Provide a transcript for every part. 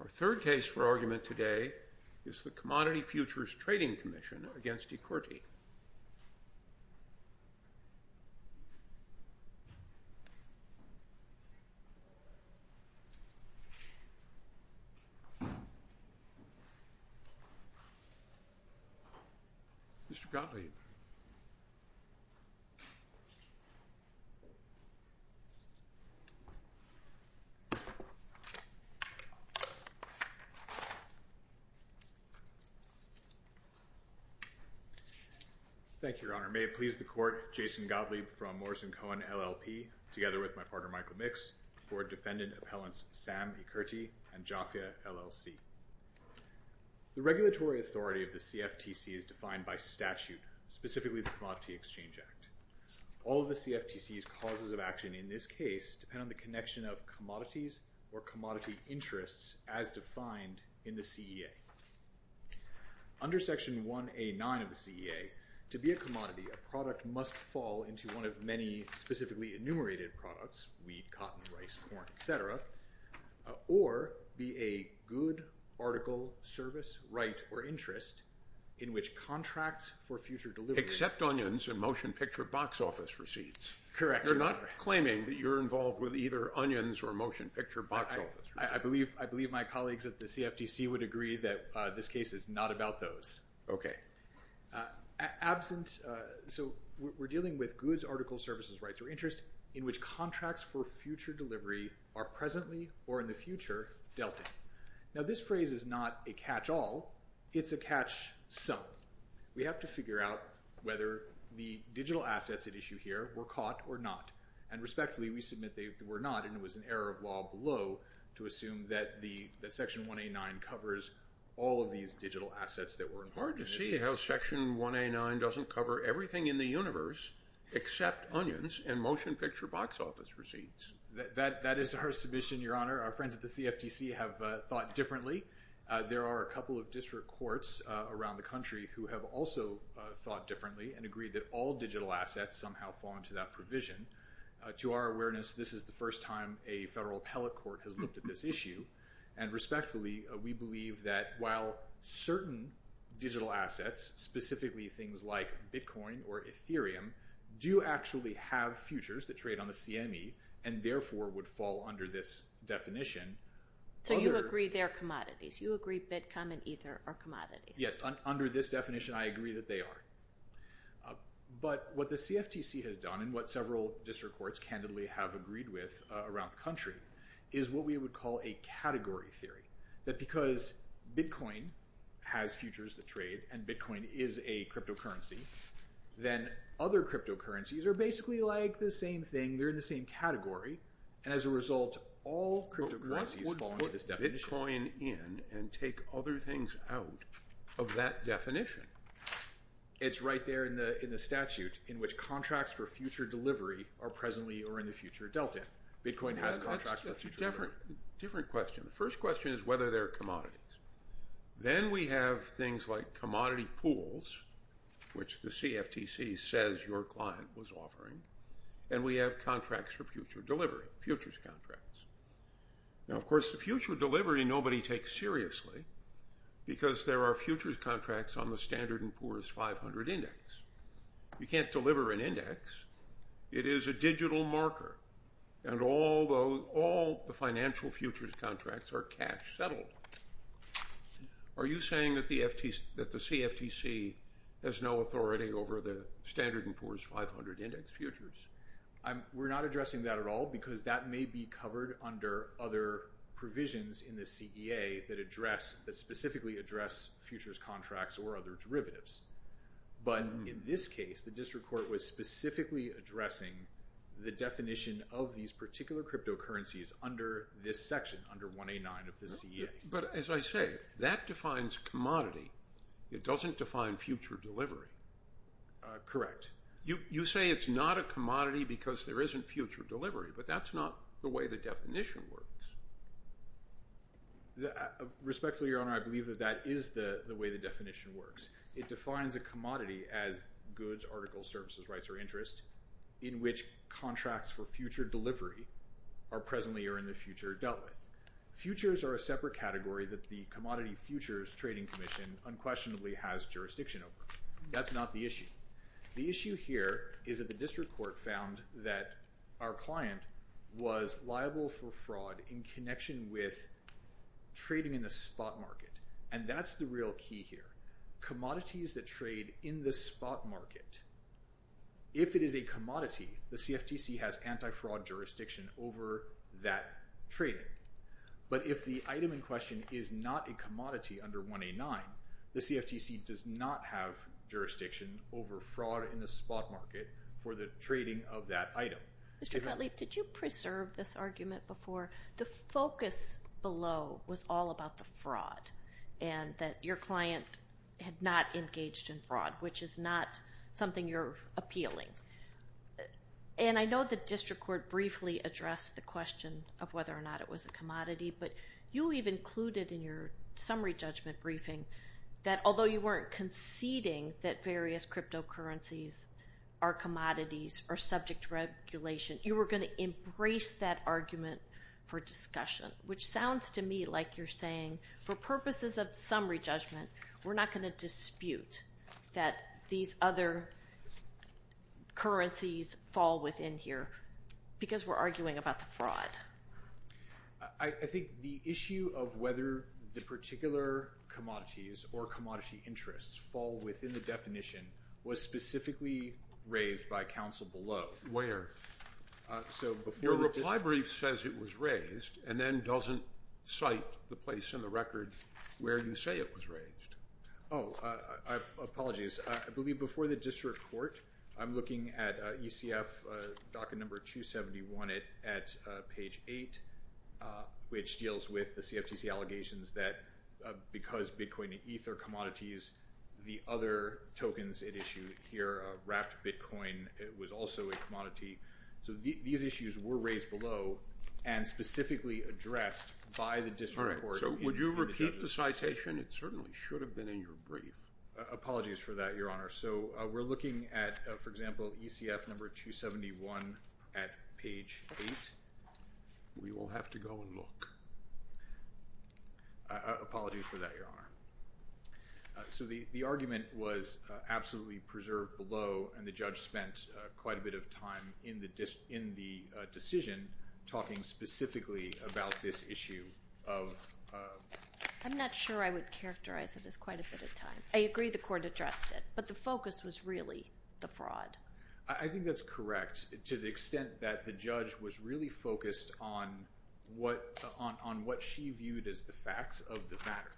Our third case for argument today is the Commodity Futures Trading Commission v. Ikkurty. Thank you, Your Honor. May it please the Court, Jason Gottlieb from Morrison-Cohen LLP, together with my partner Michael Mix, Board Defendant Appellants Sam Ikkurty and Jafia LLC. The regulatory authority of the CFTC is defined by statute, specifically the Commodity Exchange All of the CFTC's causes of action in this case depend on the connection of commodities or commodity interests as defined in the CEA. Under Section 1A.9 of the CEA, to be a commodity, a product must fall into one of many specifically enumerated products—weed, cotton, rice, corn, etc.—or be a good article, service, right, or interest in which contracts for future delivery are presently or in the future dealt in. Now, this phrase is not a catch-all, it's a catch-some. We have to figure out whether the digital assets at issue here were caught or not. And respectfully, we submit they were not, and it was an error of law below to assume that Section 1A.9 covers all of these digital assets that were in the CEA. It's hard to see how Section 1A.9 doesn't cover everything in the universe except onions and motion picture box office receipts. That is our submission, Your Honor. Our friends at the CFTC have thought differently. There are a couple of district courts around the country who have also thought differently and agreed that all digital assets somehow fall into that provision. To our awareness, this is the first time a federal appellate court has looked at this issue, and respectfully, we believe that while certain digital assets, specifically things like Bitcoin or Ethereum, do actually have futures that trade on the CME and therefore would fall under this definition. So you agree they're commodities? You agree Bitcoin and Ethereum are commodities? Yes, under this definition, I agree that they are. But what the CFTC has done, and what several district courts candidly have agreed with around the country, is what we would call a category theory. That because Bitcoin has futures that trade, and Bitcoin is a cryptocurrency, then other cryptocurrencies are basically like the same thing. They're in the same category. And as a result, all cryptocurrencies fall under this definition. But what would put Bitcoin in and take other things out of that definition? It's right there in the statute in which contracts for future delivery are presently or in the future dealt in. Bitcoin has contracts for future delivery. Different question. The first question is whether they're commodities. Then we have things like commodity pools, which the CFTC says your client was offering. And we have contracts for future delivery, futures contracts. Now, of course, the future delivery nobody takes seriously because there are futures contracts on the Standard & Poor's 500 Index. You can't deliver an index. It is a digital marker. And all the financial futures contracts are cash settled. Are you saying that the CFTC has no authority over the Standard & Poor's 500 Index futures? We're not addressing that at all, because that may be covered under other provisions in the CEA that specifically address futures contracts or other derivatives. But in this case, the district court was specifically addressing the definition of these particular cryptocurrencies under this section, under 189 of the CEA. But as I say, that defines commodity. It doesn't define future delivery. Correct. You say it's not a commodity because there isn't future delivery, but that's not the way the definition works. Respectfully, Your Honor, I believe that that is the way the definition works. It defines a commodity as goods, articles, services, rights, or interest in which contracts for future delivery are presently or in the future dealt with. Futures are a separate category that the Commodity Futures Trading Commission unquestionably has jurisdiction over. That's not the issue. The issue here is that the district court found that our client was liable for fraud in connection with trading in the spot market. And that's the real key here. Commodities that trade in the spot market, if it is a commodity, the CFTC has anti-fraud jurisdiction over that trading. But if the item in question is not a commodity under 1A9, the CFTC does not have jurisdiction over fraud in the spot market for the trading of that item. Mr. Cutley, did you preserve this argument before? The focus below was all about the fraud and that your client had not engaged in fraud, which is not something you're appealing. And I know the district court briefly addressed the question of whether or not it was a commodity, but you even included in your summary judgment briefing that although you weren't conceding that various cryptocurrencies are commodities or subject to regulation, you were going to embrace that argument for discussion, which sounds to me like you're saying, for purposes of summary judgment, we're not going to dispute that these other currencies fall within here because we're arguing about the fraud. I think the issue of whether the particular commodities or commodity interests fall within the definition was specifically raised by counsel below. So before the district... You say it was raised. Oh, apologies. I believe before the district court, I'm looking at ECF docket number 271 at page 8, which deals with the CFTC allegations that because Bitcoin and Ether commodities, the other tokens at issue here, wrapped Bitcoin, it was also a commodity. So these issues were raised below and specifically addressed by the district court. Would you repeat the citation? It certainly should have been in your brief. Apologies for that, Your Honor. So we're looking at, for example, ECF number 271 at page 8. We will have to go and look. Apologies for that, Your Honor. So the argument was absolutely preserved below, and the judge spent quite a bit of time in the decision talking specifically about this issue of... I'm not sure I would characterize it as quite a bit of time. I agree the court addressed it, but the focus was really the fraud. I think that's correct to the extent that the judge was really focused on what she viewed as the facts of the matter.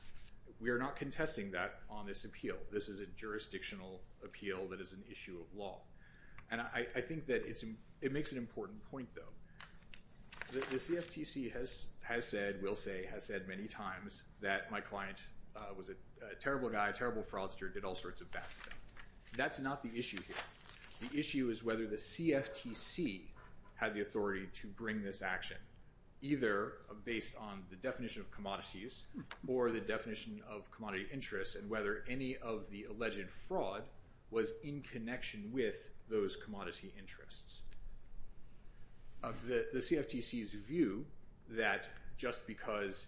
We are not contesting that on this appeal. This is a jurisdictional appeal that is an issue of law. And I think that it makes an important point, though. The CFTC has said, will say, has said many times that my client was a terrible guy, terrible fraudster, did all sorts of bad stuff. That's not the issue here. The issue is whether the CFTC had the authority to bring this action, either based on the definition of commodities or the definition of commodity interests, and whether any of the alleged fraud was in connection with those commodity interests. The CFTC's view that just because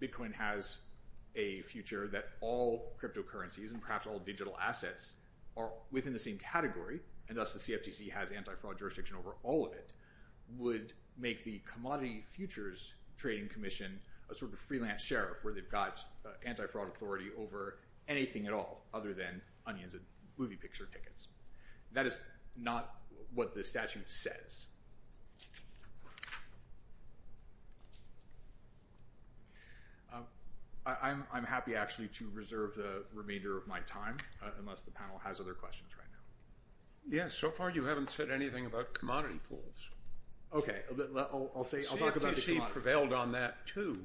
Bitcoin has a future that all cryptocurrencies and perhaps all digital assets are within the same category, and thus the CFTC has anti-fraud jurisdiction over all of it, would make the Commodity Futures Trading Commission a sort of surveillance sheriff, where they've got anti-fraud authority over anything at all other than onions and movie picture tickets. That is not what the statute says. I'm happy, actually, to reserve the remainder of my time, unless the panel has other questions right now. Yes, so far you haven't said anything about commodity pools. OK, I'll say, I'll talk about the commodities. You prevailed on that, too,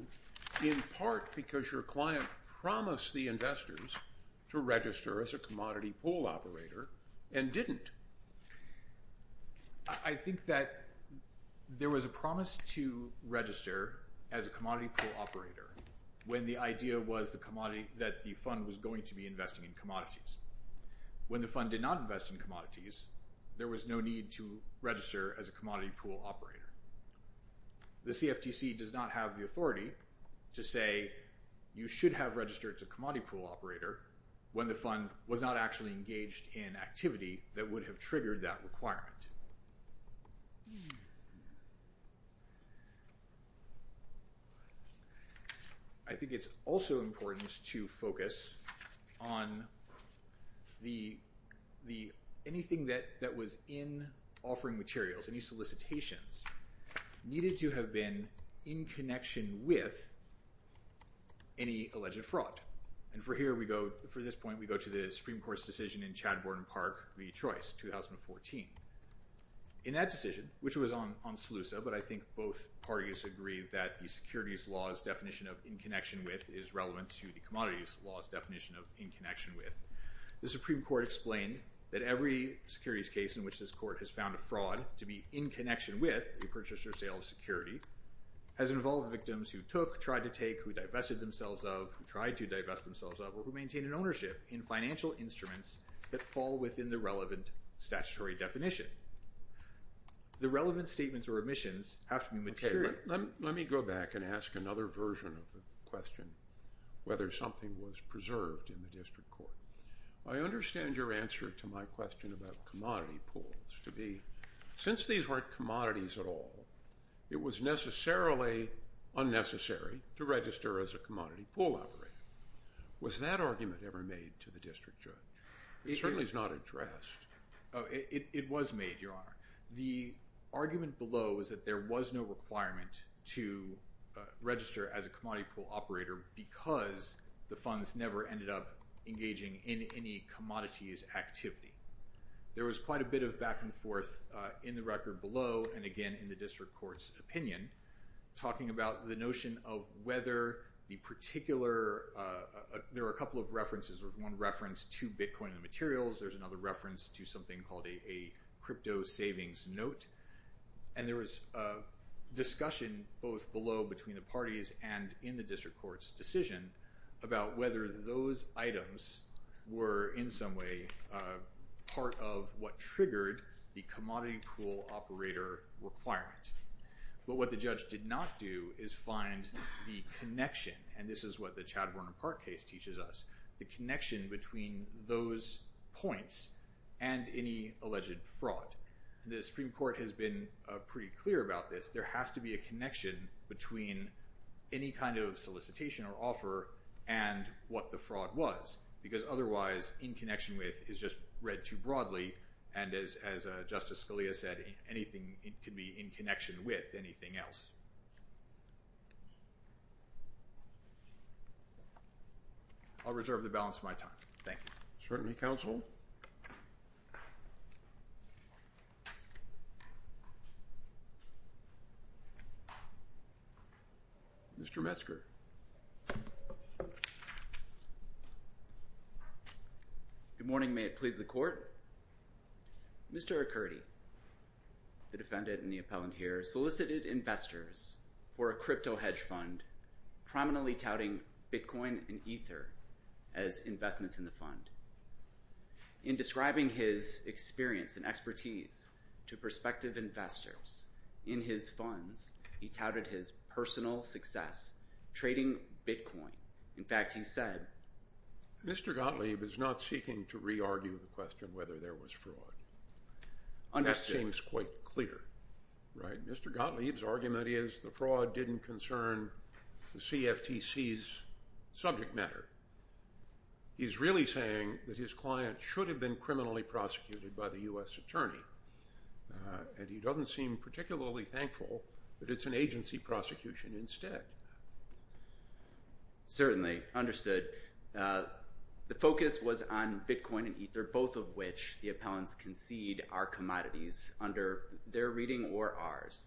in part because your client promised the investors to register as a commodity pool operator and didn't. I think that there was a promise to register as a commodity pool operator when the idea was that the fund was going to be investing in commodities. When the fund did not invest in commodities, there was no need to register as a commodity pool operator. The CFTC does not have the authority to say you should have registered as a commodity pool operator when the fund was not actually engaged in activity that would have triggered that requirement. I think it's also important to focus on anything that was in offering materials, any solicitations needed to have been in connection with any alleged fraud. And for here, we go, for this point, we go to the Supreme Court's decision in Chad Borden Park v. Choice, 2014. In that decision, which was on SLUSA, but I think both parties agree that the securities law's definition of in connection with is relevant to the commodities law's definition of in connection with. The Supreme Court explained that every securities case in which this court has found a fraud to be in connection with a purchase or sale of security has involved victims who took, tried to take, who divested themselves of, who tried to divest themselves of, or who maintain an ownership in financial instruments that fall within the relevant statutory definition. The relevant statements or omissions have to be material. Okay, let me go back and ask another version of the question, whether something was preserved in the district court. I understand your answer to my question about commodity pools to be, since these weren't commodities at all, it was necessarily unnecessary to register as a commodity pool operator. Was that argument ever made to the district judge? It certainly is not addressed. Oh, it was made, Your Honor. The argument below was that there was no requirement to register as a commodity pool operator because the funds never ended up engaging in any commodities activity. There was quite a bit of back and forth in the record below, and again, in the district court's opinion, talking about the notion of whether the particular, there are a couple of references. There's one reference to Bitcoin and materials. There's another reference to something called a crypto savings note. And there was a discussion both below between the parties and in the district court's decision about whether those items were in some way part of what triggered the commodity pool operator requirement. But what the judge did not do is find the connection, and this is what the Chad Warner Park case teaches us, the connection between those points and any alleged fraud. The Supreme Court has been pretty clear about this. There has to be a connection between any kind of solicitation or offer and what the fraud was, because otherwise, in connection with is just read too broadly. And as Justice Scalia said, anything can be in connection with anything else. I'll reserve the balance of my time. Thank you. Certainly, counsel. Mr. Metzger. Good morning. May it please the court. Mr. O'Curdy, the defendant and the appellant here, solicited investors for a crypto hedge fund, prominently touting Bitcoin and Ether as investments in the fund. In describing his experience and expertise to prospective investors in his fund, Mr. Metzger touted his personal success trading Bitcoin. In fact, he said. Mr. Gottlieb is not seeking to re-argue the question whether there was fraud. That seems quite clear, right? Mr. Gottlieb's argument is the fraud didn't concern the CFTC's subject matter. He's really saying that his client should have been criminally prosecuted by the U.S. attorney. And he doesn't seem particularly thankful that it's an agency prosecution instead. Certainly, understood. The focus was on Bitcoin and Ether, both of which the appellants concede are commodities under their reading or ours.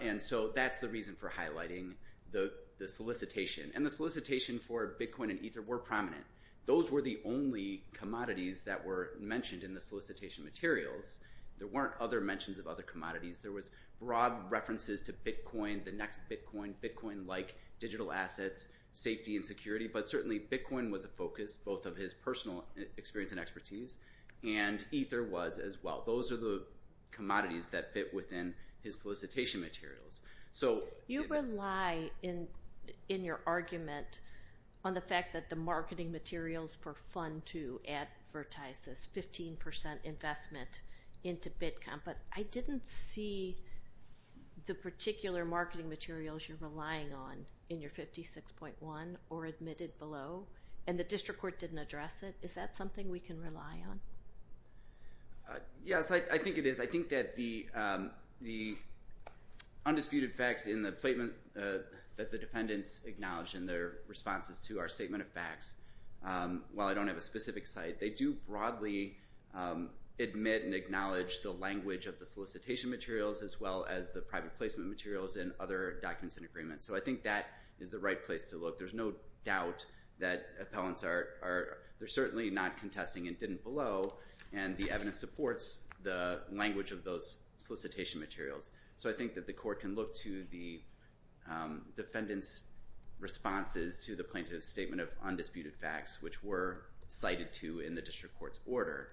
And so that's the reason for highlighting the solicitation. And the solicitation for Bitcoin and Ether were prominent. Those were the only commodities that were mentioned in the solicitation materials. There weren't other mentions of other commodities. There was broad references to Bitcoin, the next Bitcoin, Bitcoin-like digital assets, safety and security. But certainly, Bitcoin was a focus, both of his personal experience and expertise, and Ether was as well. Those are the commodities that fit within his solicitation materials. You rely in your argument on the fact that the marketing materials for fund to advertise this 15% investment into Bitcoin. But I didn't see the particular marketing materials you're relying on in your 56.1 or admitted below. And the district court didn't address it. Is that something we can rely on? Yes, I think it is. I think that the undisputed facts in the statement that the defendants acknowledge in their responses to our statement of facts, while I don't have a specific site, they do broadly admit and acknowledge the language of the solicitation materials as well as the private placement materials and other documents and agreements. So I think that is the right place to look. There's no doubt that appellants are certainly not contesting and didn't below. And the evidence supports the language of those solicitation materials. So I think that the court can look to the defendant's responses to the plaintiff's statement of undisputed facts, which were cited to in the district court's order.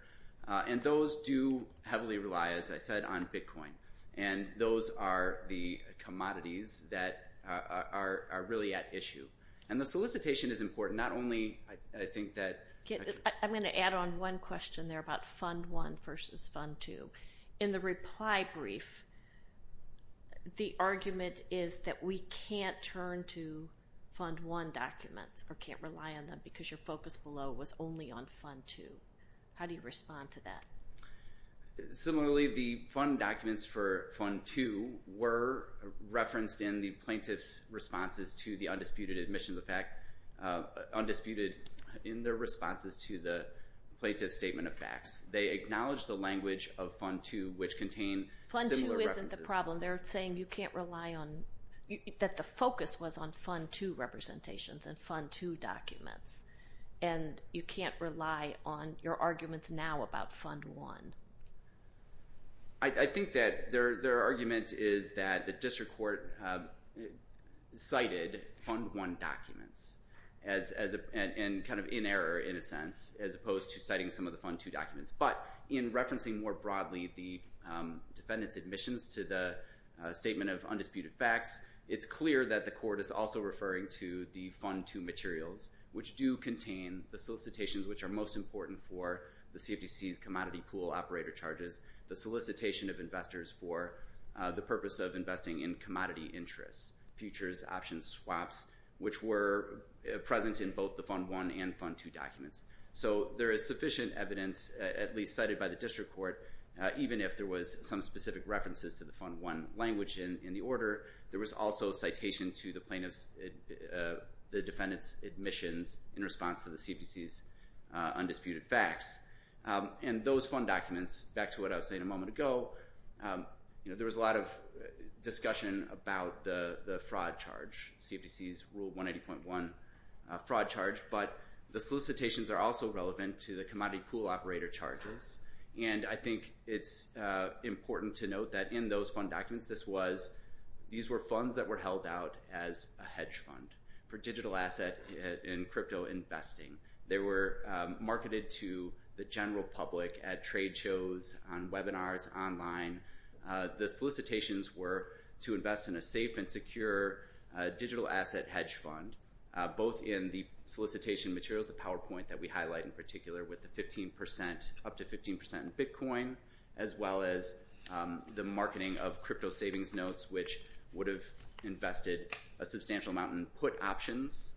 And those do heavily rely, as I said, on Bitcoin. And those are the commodities that are really at issue. And the solicitation is important. Not only, I think that... I'm going to add on one question there about Fund 1 versus Fund 2. In the reply brief, the argument is that we can't turn to Fund 1 documents or can't rely on them because your focus below was only on Fund 2. How do you respond to that? Similarly, the Fund documents for Fund 2 were referenced in the plaintiff's responses to undisputed admissions of fact, undisputed in their responses to the plaintiff's statement of facts. They acknowledge the language of Fund 2, which contain similar references. Fund 2 isn't the problem. They're saying you can't rely on... That the focus was on Fund 2 representations and Fund 2 documents. And you can't rely on your arguments now about Fund 1. I think that their argument is that the district court cited Fund 1 documents and in error, in a sense, as opposed to citing some of the Fund 2 documents. But in referencing more broadly the defendant's admissions to the statement of undisputed facts, it's clear that the court is also referring to the Fund 2 materials, which do contain the solicitations, which are most important for the CFTC's commodity pool operator charges, the solicitation of investors for the purpose of investing in commodity interests, futures, options, swaps, which were present in both the Fund 1 and Fund 2 documents. So there is sufficient evidence, at least cited by the district court, even if there was some specific references to the Fund 1 language in the order. There was also a citation to the plaintiff's, the defendant's admissions in response to the CFTC's undisputed facts. And those Fund documents, back to what I was saying a moment ago, there was a lot of discussion about the fraud charge, CFTC's Rule 180.1 fraud charge, but the solicitations are also relevant to the commodity pool operator charges. And I think it's important to note that in those Fund documents, this was, these were funds that were held out as a hedge fund for digital asset and crypto investing. They were marketed to the general public at trade shows, on webinars, online. The solicitations were to invest in a safe and secure digital asset hedge fund, both in the solicitation materials, the PowerPoint that we highlight in particular, with the 15%, up to 15% in Bitcoin, as well as the marketing of crypto savings notes, which would have invested a substantial amount in put options,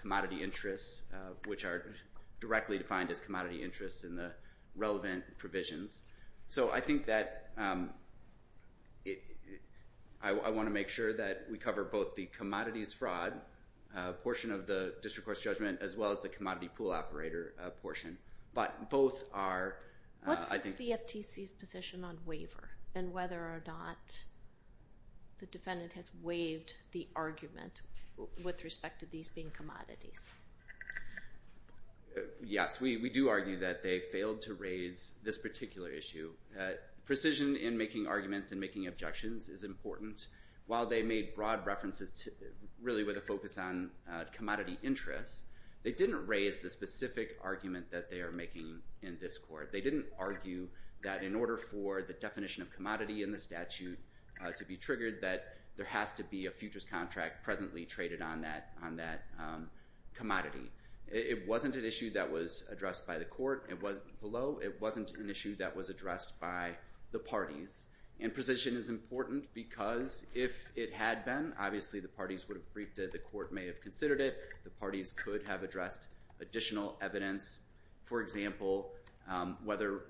commodity interests, which are directly defined as commodity interests in the relevant provisions. So I think that I want to make sure that we cover both the commodities fraud portion of the district court's judgment, as well as the commodity pool operator portion. But both are, I think- What's the CFTC's position on waiver, and whether or not the defendant has waived the argument with respect to these being commodities? Yes, we do argue that they failed to raise this particular issue. Precision in making arguments and making objections is important. While they made broad references to, really with a focus on commodity interests, they didn't raise the specific argument that they are making in this court. They didn't argue that in order for the definition of commodity in the statute to be triggered, that there has to be a futures contract presently traded on that commodity. It wasn't an issue that was addressed by the court below. It wasn't an issue that was addressed by the parties. And precision is important because if it had been, obviously the parties would have briefed it, the court may have considered it. The parties could have addressed additional evidence, for example, whether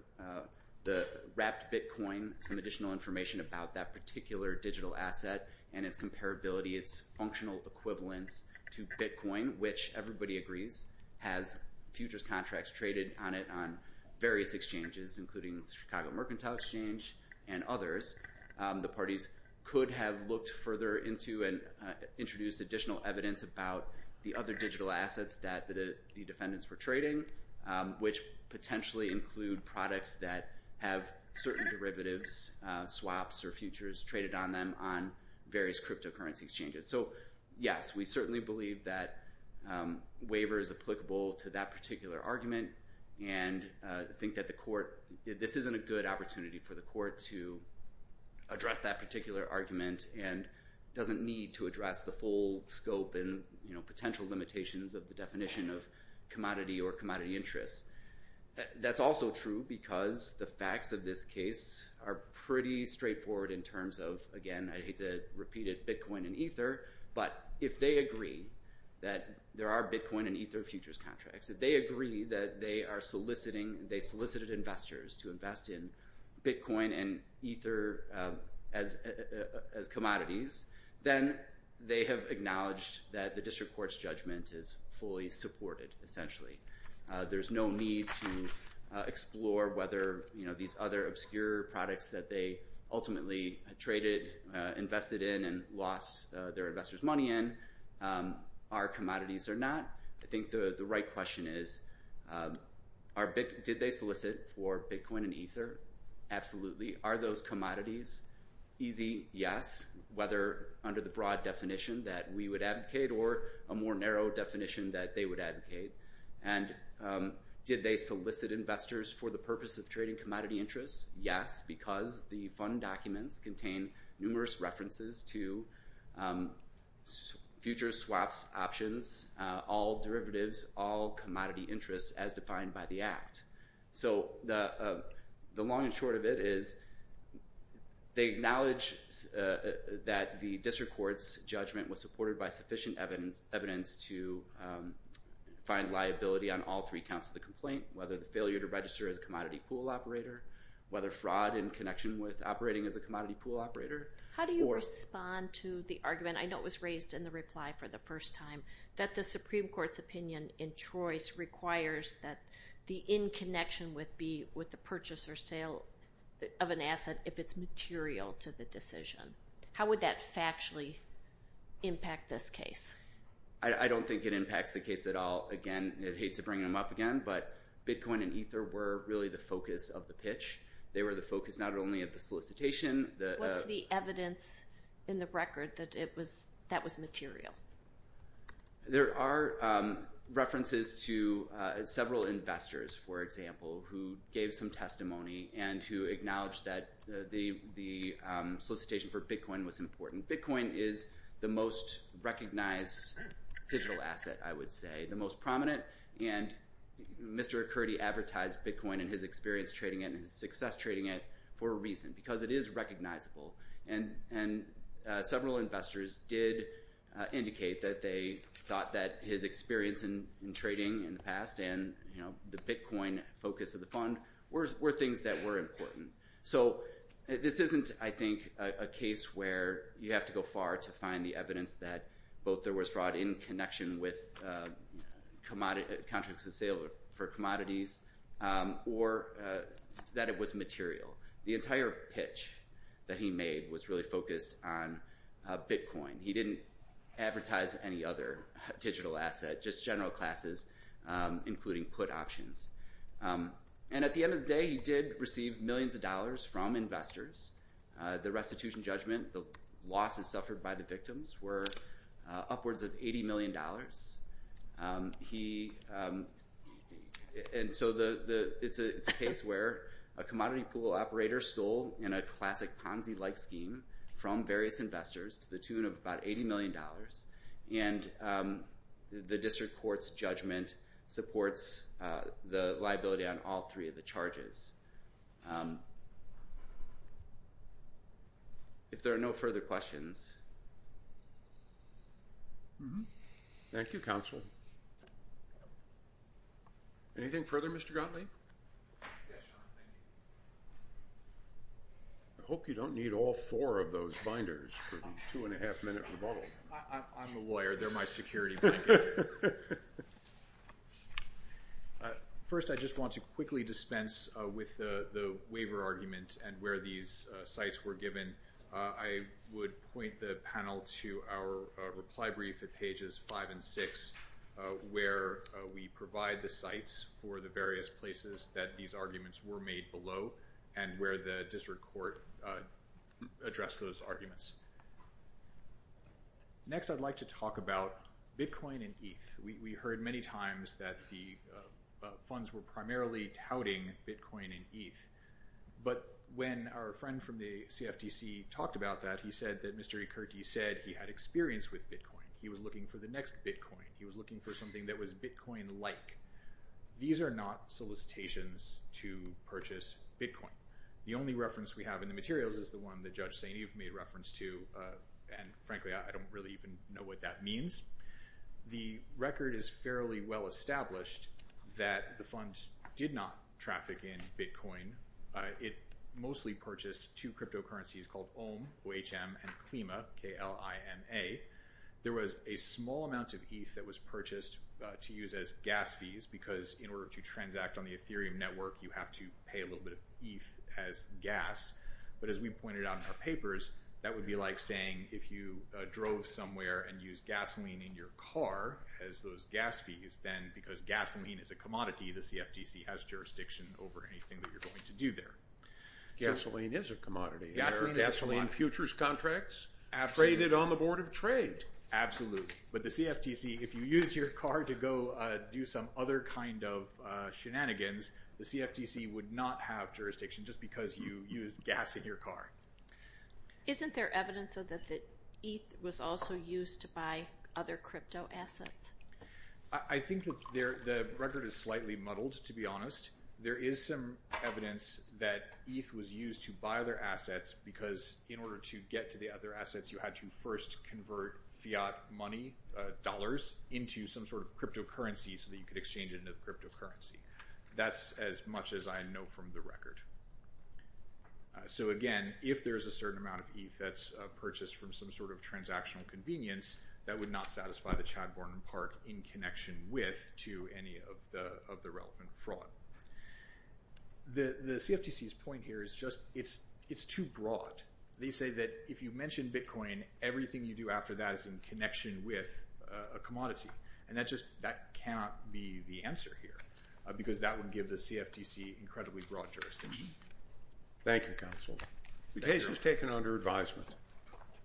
the wrapped Bitcoin, some additional information about that particular digital asset and its comparability, its functional equivalence to Bitcoin, which everybody agrees has futures contracts traded on it on various exchanges, including the Chicago Mercantile Exchange and others. The parties could have looked further into and introduced additional evidence about the other digital assets that the defendants were trading, which potentially include products that have certain derivatives, swaps, or futures traded on them on various cryptocurrency exchanges. So, yes, we certainly believe that waiver is applicable to that particular argument and think that this isn't a good opportunity for the court to address that particular argument and doesn't need to address the full scope and potential limitations of the definition of commodity or commodity interests. That's also true because the facts of this case are pretty straightforward in terms of, again, I hate to repeat it, Bitcoin and Ether, but if they agree that there are Bitcoin and Ether futures contracts, if they agree that they are soliciting, they solicited investors to invest in Bitcoin and Ether as commodities, then they have acknowledged that the district court's judgment is fully supported, essentially. There's no need to explore whether these other obscure products that they ultimately traded, invested in, and lost their investors' money in are commodities or not. I think the right question is, did they solicit for Bitcoin and Ether? Absolutely. Are those commodities? Easy, yes, whether under the broad definition that we would advocate or a more narrow definition that they would advocate. And did they solicit investors for the purpose of trading commodity interests? Yes, because the fund documents contain numerous references to future swaps, options, all derivatives, all commodity interests as defined by the act. So the long and short of it is they acknowledge that the district court's judgment was supported by sufficient evidence to find liability on all three counts of the complaint, whether the failure to register as a commodity pool operator, whether fraud in connection with operating as a commodity pool operator. How do you respond to the argument? I know it was raised in the reply for the first time, that the Supreme Court's opinion in choice requires that the in connection would be with the purchase or sale of an asset if it's material to the decision. How would that factually impact this case? I don't think it impacts the case at all. Again, I'd hate to bring them up again, but Bitcoin and Ether were really the focus of the pitch. They were the focus, not only of the solicitation. What's the evidence in the record that that was material? There are references to several investors, for example, who gave some testimony and who acknowledged that the solicitation for Bitcoin was important. Bitcoin is the most recognized digital asset, I would say, the most prominent. And Mr. Akurdi advertised Bitcoin and his experience trading it and his success trading it for a reason, because it is recognizable. And several investors did indicate that they thought that his experience in trading in the past and the Bitcoin focus of the fund were things that were important. So this isn't, I think, a case where you have to go far to find the evidence that both there commodities or that it was material. The entire pitch that he made was really focused on Bitcoin. He didn't advertise any other digital asset, just general classes, including put options. And at the end of the day, he did receive millions of dollars from investors. The restitution judgment, the losses suffered by the victims were upwards of $80 million. And so it's a case where a commodity pool operator stole in a classic Ponzi-like scheme from various investors to the tune of about $80 million. And the district court's judgment supports the liability on all three of the charges. If there are no further questions. Thank you, counsel. Anything further, Mr. Gottlieb? I hope you don't need all four of those binders for a two and a half minute rebuttal. I'm a lawyer. They're my security blanket. First, I just want to quickly dispense with the waiver argument and where these sites were given. I would point the panel to our reply brief at pages five and six, where we provide the sites for the various places that these arguments were made below and where the district court addressed those arguments. Next, I'd like to talk about Bitcoin and ETH. We heard many times that the funds were primarily touting Bitcoin and ETH. But when our friend from the CFTC talked about that, he said that Mr. Ekerty said he had experience with Bitcoin. He was looking for the next Bitcoin. He was looking for something that was Bitcoin-like. These are not solicitations to purchase Bitcoin. The only reference we have in the materials is the one that Judge Saineev made reference to. And frankly, I don't really even know what that means. The record is fairly well established that the fund did not traffic in Bitcoin. It mostly purchased two cryptocurrencies called OHM, O-H-M, and KLIMA, K-L-I-M-A. There was a small amount of ETH that was purchased to use as gas fees, because in order to transact on the Ethereum network, you have to pay a little bit of ETH as gas. But as we pointed out in our papers, that would be like saying, if you drove somewhere and used gasoline in your car as those gas fees, then because gasoline is a commodity, the CFTC has jurisdiction over anything that you're going to do there. Gasoline is a commodity. There are gasoline futures contracts traded on the board of trade. Absolutely. But the CFTC, if you use your car to go do some other kind of shenanigans, the CFTC would not have jurisdiction just because you used gas in your car. Isn't there evidence that ETH was also used to buy other crypto assets? I think the record is slightly muddled, to be honest. There is some evidence that ETH was used to buy other assets because in order to get to the other assets, you had to first convert fiat money, dollars, into some sort of cryptocurrency so that you could exchange it into the cryptocurrency. That's as much as I know from the record. So again, if there's a certain amount of ETH that's purchased from some sort of transactional convenience, that would not satisfy the Chad Borden part in connection with to any of the relevant fraud. The CFTC's point here is just, it's too broad. They say that if you mention Bitcoin, everything you do after that is in connection with a commodity. And that just, that cannot be the answer here because that would give the CFTC incredibly broad jurisdiction. Thank you, counsel. The case is taken under advisement.